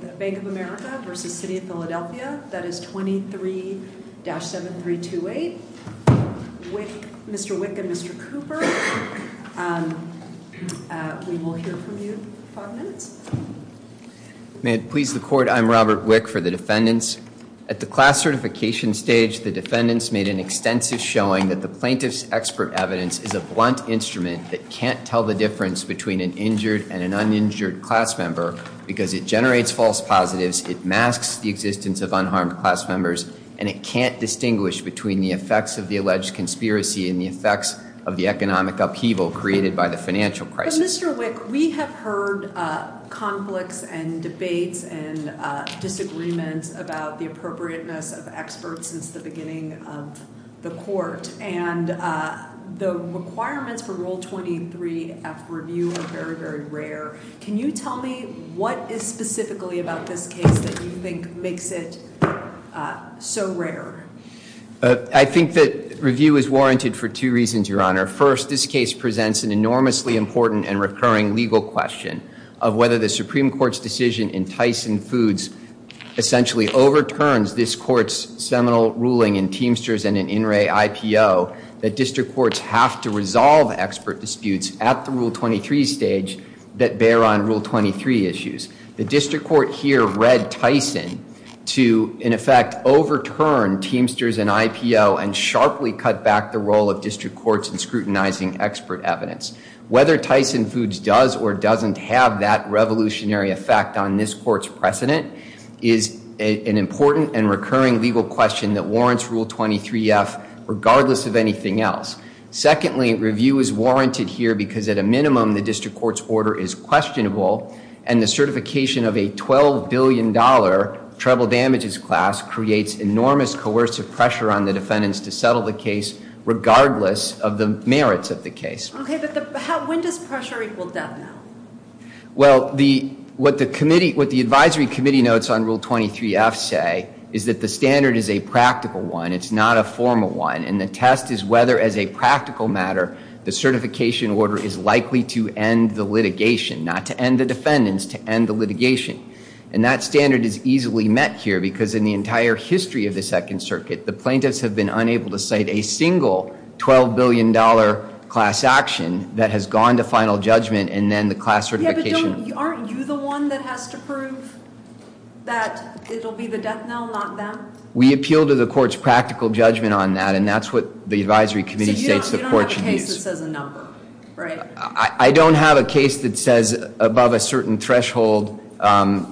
That is 23-7328. Mr. Wick and Mr. Cooper, we will hear from you in five minutes. May it please the court, I'm Robert Wick for the defendants. At the class certification stage, the defendants made an extensive showing that the plaintiff's expert evidence is a blunt instrument that can't tell the difference between an injured and an uninjured class member because it generates false positives, it masks the existence of unharmed class members, and it can't distinguish between the effects of the alleged conspiracy and the effects of the economic upheaval created by the financial crisis. Mr. Wick, we have heard conflicts and debates and disagreements about the appropriateness of experts since the beginning of the court, and the requirements for Rule 23-F review are very, very rare. Can you tell me what is specifically about this case that you think makes it so rare? I think that review is warranted for two reasons, Your Honor. First, this case presents an enormously important and recurring legal question of whether the Supreme Court's decision in Tyson Foods essentially overturns this court's seminal ruling in Teamsters and in In re IPO that district courts have to resolve expert disputes at the Rule 23 stage that bear on Rule 23 issues. The district court here read Tyson to, in effect, overturn Teamsters and IPO and sharply cut back the role of district courts in scrutinizing expert evidence. Whether Tyson Foods does or doesn't have that revolutionary effect on this court's precedent is an important and recurring legal question that warrants Rule 23-F regardless of anything else. Secondly, review is warranted here because, at a minimum, the district court's order is questionable, and the certification of a $12 billion treble damages class creates enormous coercive pressure on the defendants to settle the case regardless of the merits of the case. Okay, but when does pressure equal death now? Well, what the advisory committee notes on Rule 23-F say is that the standard is a practical one. It's not a formal one, and the test is whether, as a practical matter, the certification order is likely to end the litigation, not to end the defendants, to end the litigation. And that standard is easily met here because, in the entire history of the Second Circuit, the plaintiffs have been unable to cite a single $12 billion class action that has gone to final judgment and then the class certification order. Yeah, but aren't you the one that has to prove that it'll be the death knell, not them? We appeal to the court's practical judgment on that, and that's what the advisory committee states the court should use. So you don't have a case that says a number, right? I don't have a case that says above a certain threshold,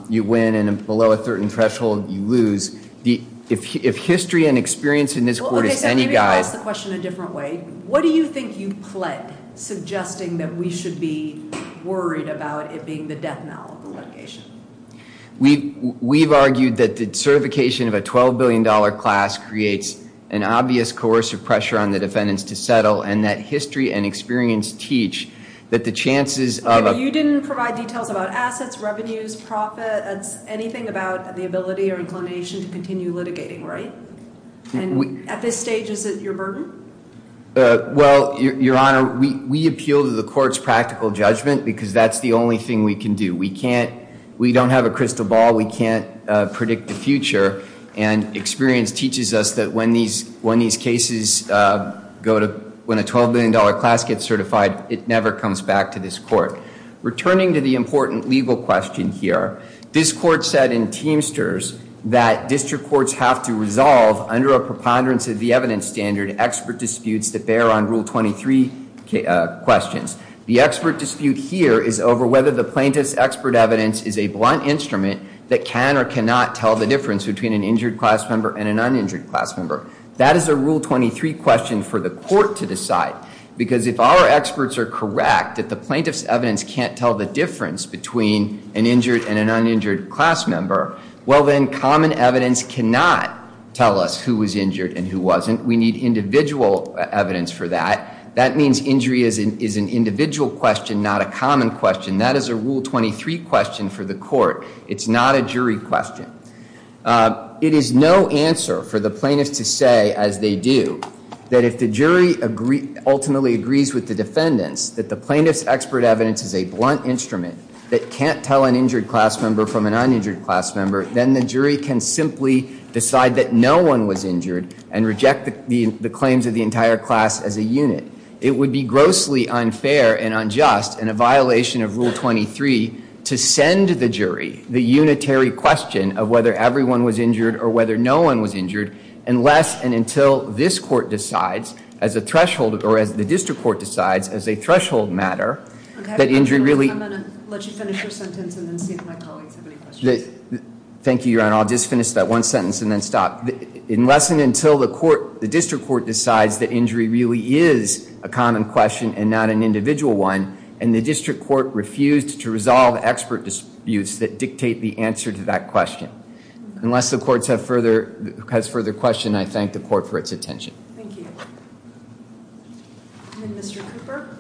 you win, and below a certain threshold, you lose. If history and experience in this court is any guide- Okay, so maybe you could ask the question a different way. What do you think you pled, suggesting that we should be worried about it being the death knell of the litigation? We've argued that the certification of a $12 billion class creates an obvious coercive pressure on the defendants to settle, and that history and experience teach that the chances of- Okay, but you didn't provide details about assets, revenues, profits, anything about the ability or inclination to continue litigating, right? At this stage, is it your burden? Well, Your Honor, we appeal to the court's practical judgment because that's the only thing we can do. We don't have a crystal ball, we can't predict the future, and experience teaches us that when these cases go to- when a $12 billion class gets certified, it never comes back to this court. Returning to the important legal question here, this court said in Teamsters that district courts have to resolve, under a preponderance of the evidence standard, expert disputes that bear on Rule 23 questions. The expert dispute here is over whether the plaintiff's expert evidence is a blunt instrument that can or cannot tell the difference between an injured class member and an uninjured class member. That is a Rule 23 question for the court to decide. Because if our experts are correct that the plaintiff's evidence can't tell the difference between an injured and an uninjured class member, well then, common evidence cannot tell us who was injured and who wasn't. We need individual evidence for that. That means injury is an individual question, not a common question. That is a Rule 23 question for the court. It's not a jury question. It is no answer for the plaintiff to say, as they do, that if the jury ultimately agrees with the defendants, that the plaintiff's expert evidence is a blunt instrument that can't tell an injured class member from an uninjured class member, then the jury can simply decide that no one was injured and reject the claims of the entire class as a unit. It would be grossly unfair and unjust, in a violation of Rule 23, to send the jury the unitary question of whether everyone was injured or whether no one was injured, unless and until this court decides as a threshold, or as the district court decides as a threshold matter, that injury really... I'm going to let you finish your sentence and then see if my colleagues have any questions. Thank you, Your Honor. I'll just finish that one sentence and then stop. Unless and until the district court decides that injury really is a common question and not an individual one, and the district court refused to resolve expert disputes that dictate the answer to that question, unless the court has further questions, I thank the court for its attention. Thank you. And then Mr. Cooper.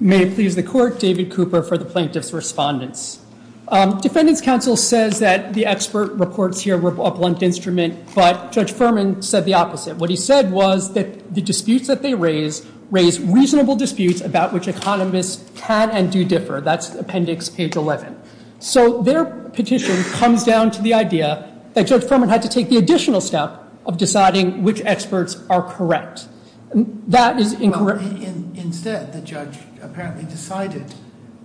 May it please the court, David Cooper for the plaintiff's respondents. Defendant's counsel says that the expert reports here were a blunt instrument, but Judge Furman said the opposite. What he said was that the disputes that they raise raise reasonable disputes about which economists can and do differ. That's appendix page 11. So their petition comes down to the idea that Judge Furman had to take the additional step of deciding which experts are correct. That is incorrect. Instead, the judge apparently decided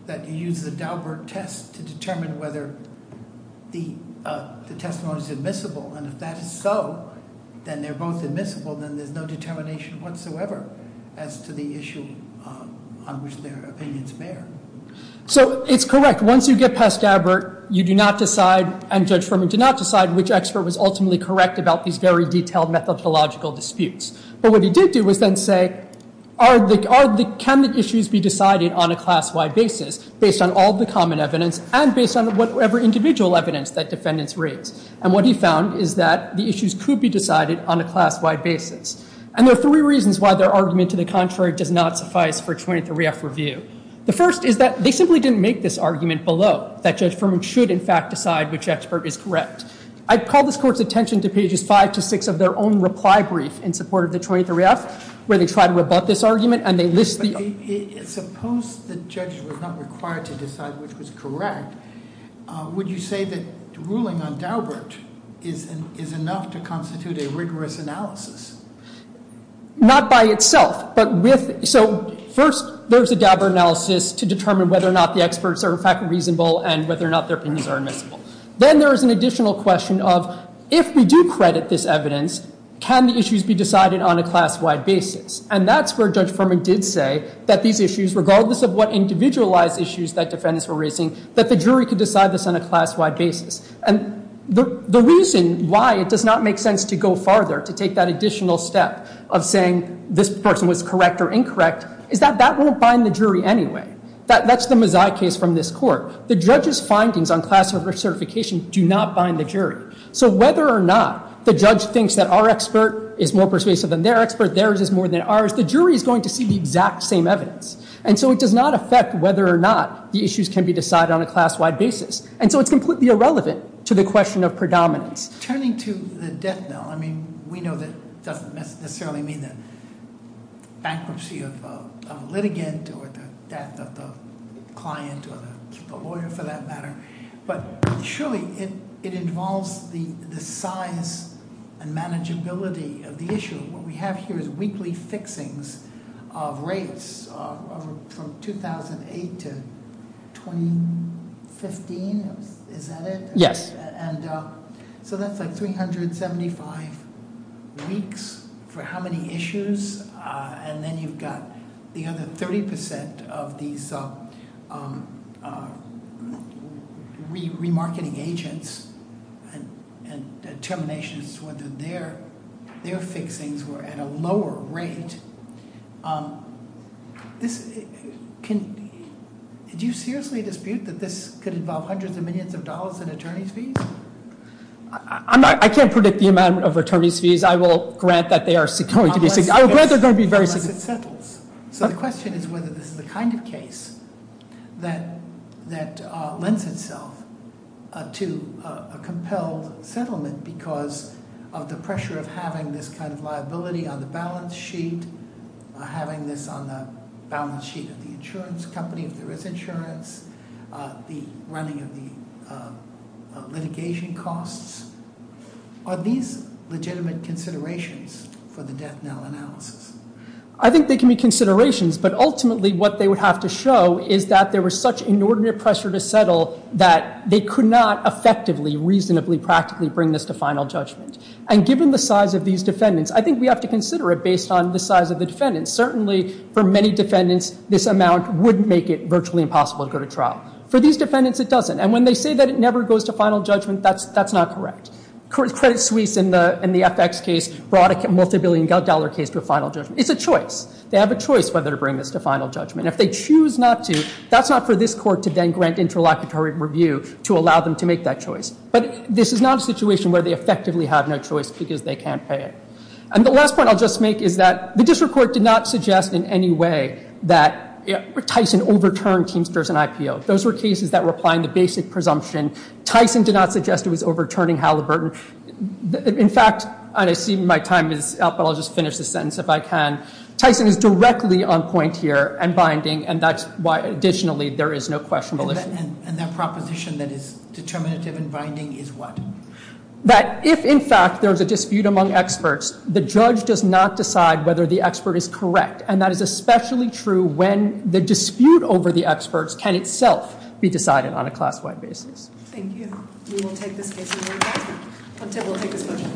that he used the Daubert test to determine whether the testimony is admissible, and if that is so, then they're both admissible, then there's no determination whatsoever as to the issue on which their opinions bear. So it's correct. Once you get past Daubert, you do not decide, and Judge Furman did not decide, which expert was ultimately correct about these very detailed methodological disputes. But what he did do was then say, can the issues be decided on a class-wide basis, based on all the common evidence and based on whatever individual evidence that defendants raise? And what he found is that the issues could be decided on a class-wide basis. And there are three reasons why their argument to the contrary does not suffice for a 23-F review. The first is that they simply didn't make this argument below, that Judge Furman should in fact decide which expert is correct. I'd call this Court's attention to pages 5 to 6 of their own reply brief in support of the 23-F, where they try to rebut this argument and they list the- Suppose the judges were not required to decide which was correct. Would you say that ruling on Daubert is enough to constitute a rigorous analysis? Not by itself, but with- So first, there's a Daubert analysis to determine whether or not the experts are in fact reasonable and whether or not their opinions are admissible. Then there is an additional question of, if we do credit this evidence, can the issues be decided on a class-wide basis? And that's where Judge Furman did say that these issues, regardless of what individualized issues that defendants were raising, that the jury could decide this on a class-wide basis. And the reason why it does not make sense to go farther, to take that additional step of saying this person was correct or incorrect, is that that won't bind the jury anyway. That's the Mazzai case from this Court. The judge's findings on class certification do not bind the jury. So whether or not the judge thinks that our expert is more persuasive than their expert, theirs is more than ours, the jury is going to see the exact same evidence. And so it does not affect whether or not the issues can be decided on a class-wide basis. And so it's completely irrelevant to the question of predominance. Turning to the death knell, I mean, we know that doesn't necessarily mean the bankruptcy of a litigant or the death of the client or the lawyer, for that matter. But surely it involves the size and manageability of the issue. What we have here is weekly fixings of rates from 2008 to 2015. Is that it? Yes. And so that's like 375 weeks for how many issues? And then you've got the other 30% of these remarketing agents and determinations whether their fixings were at a lower rate. Did you seriously dispute that this could involve hundreds of millions of dollars in attorney's fees? I can't predict the amount of attorney's fees. I will grant that they are going to be very significant. Unless it settles. So the question is whether this is the kind of case that lends itself to a compelled settlement because of the pressure of having this kind of liability on the balance sheet, having this on the balance sheet of the insurance company if there is insurance, the running of the litigation costs. Are these legitimate considerations for the death knell analysis? I think they can be considerations. But ultimately what they would have to show is that there was such inordinate pressure to settle that they could not effectively, reasonably, practically bring this to final judgment. And given the size of these defendants, I think we have to consider it based on the size of the defendants. Certainly for many defendants this amount would make it virtually impossible to go to trial. For these defendants it doesn't. And when they say that it never goes to final judgment, that's not correct. Credit Suisse in the FX case brought a multibillion dollar case to a final judgment. It's a choice. They have a choice whether to bring this to final judgment. If they choose not to, that's not for this court to then grant interlocutory review to allow them to make that choice. But this is not a situation where they effectively have no choice because they can't pay it. And the last point I'll just make is that the district court did not suggest in any way that Tyson overturned Teamsters and IPO. Those were cases that were applying the basic presumption. Tyson did not suggest it was overturning Halliburton. In fact, I see my time is up, but I'll just finish this sentence if I can. Tyson is directly on point here and binding, and that's why additionally there is no question. And that proposition that is determinative and binding is what? That if, in fact, there's a dispute among experts, the judge does not decide whether the expert is correct. And that is especially true when the dispute over the experts can itself be decided on a class-wide basis. Thank you. We will take this case. We will take this question.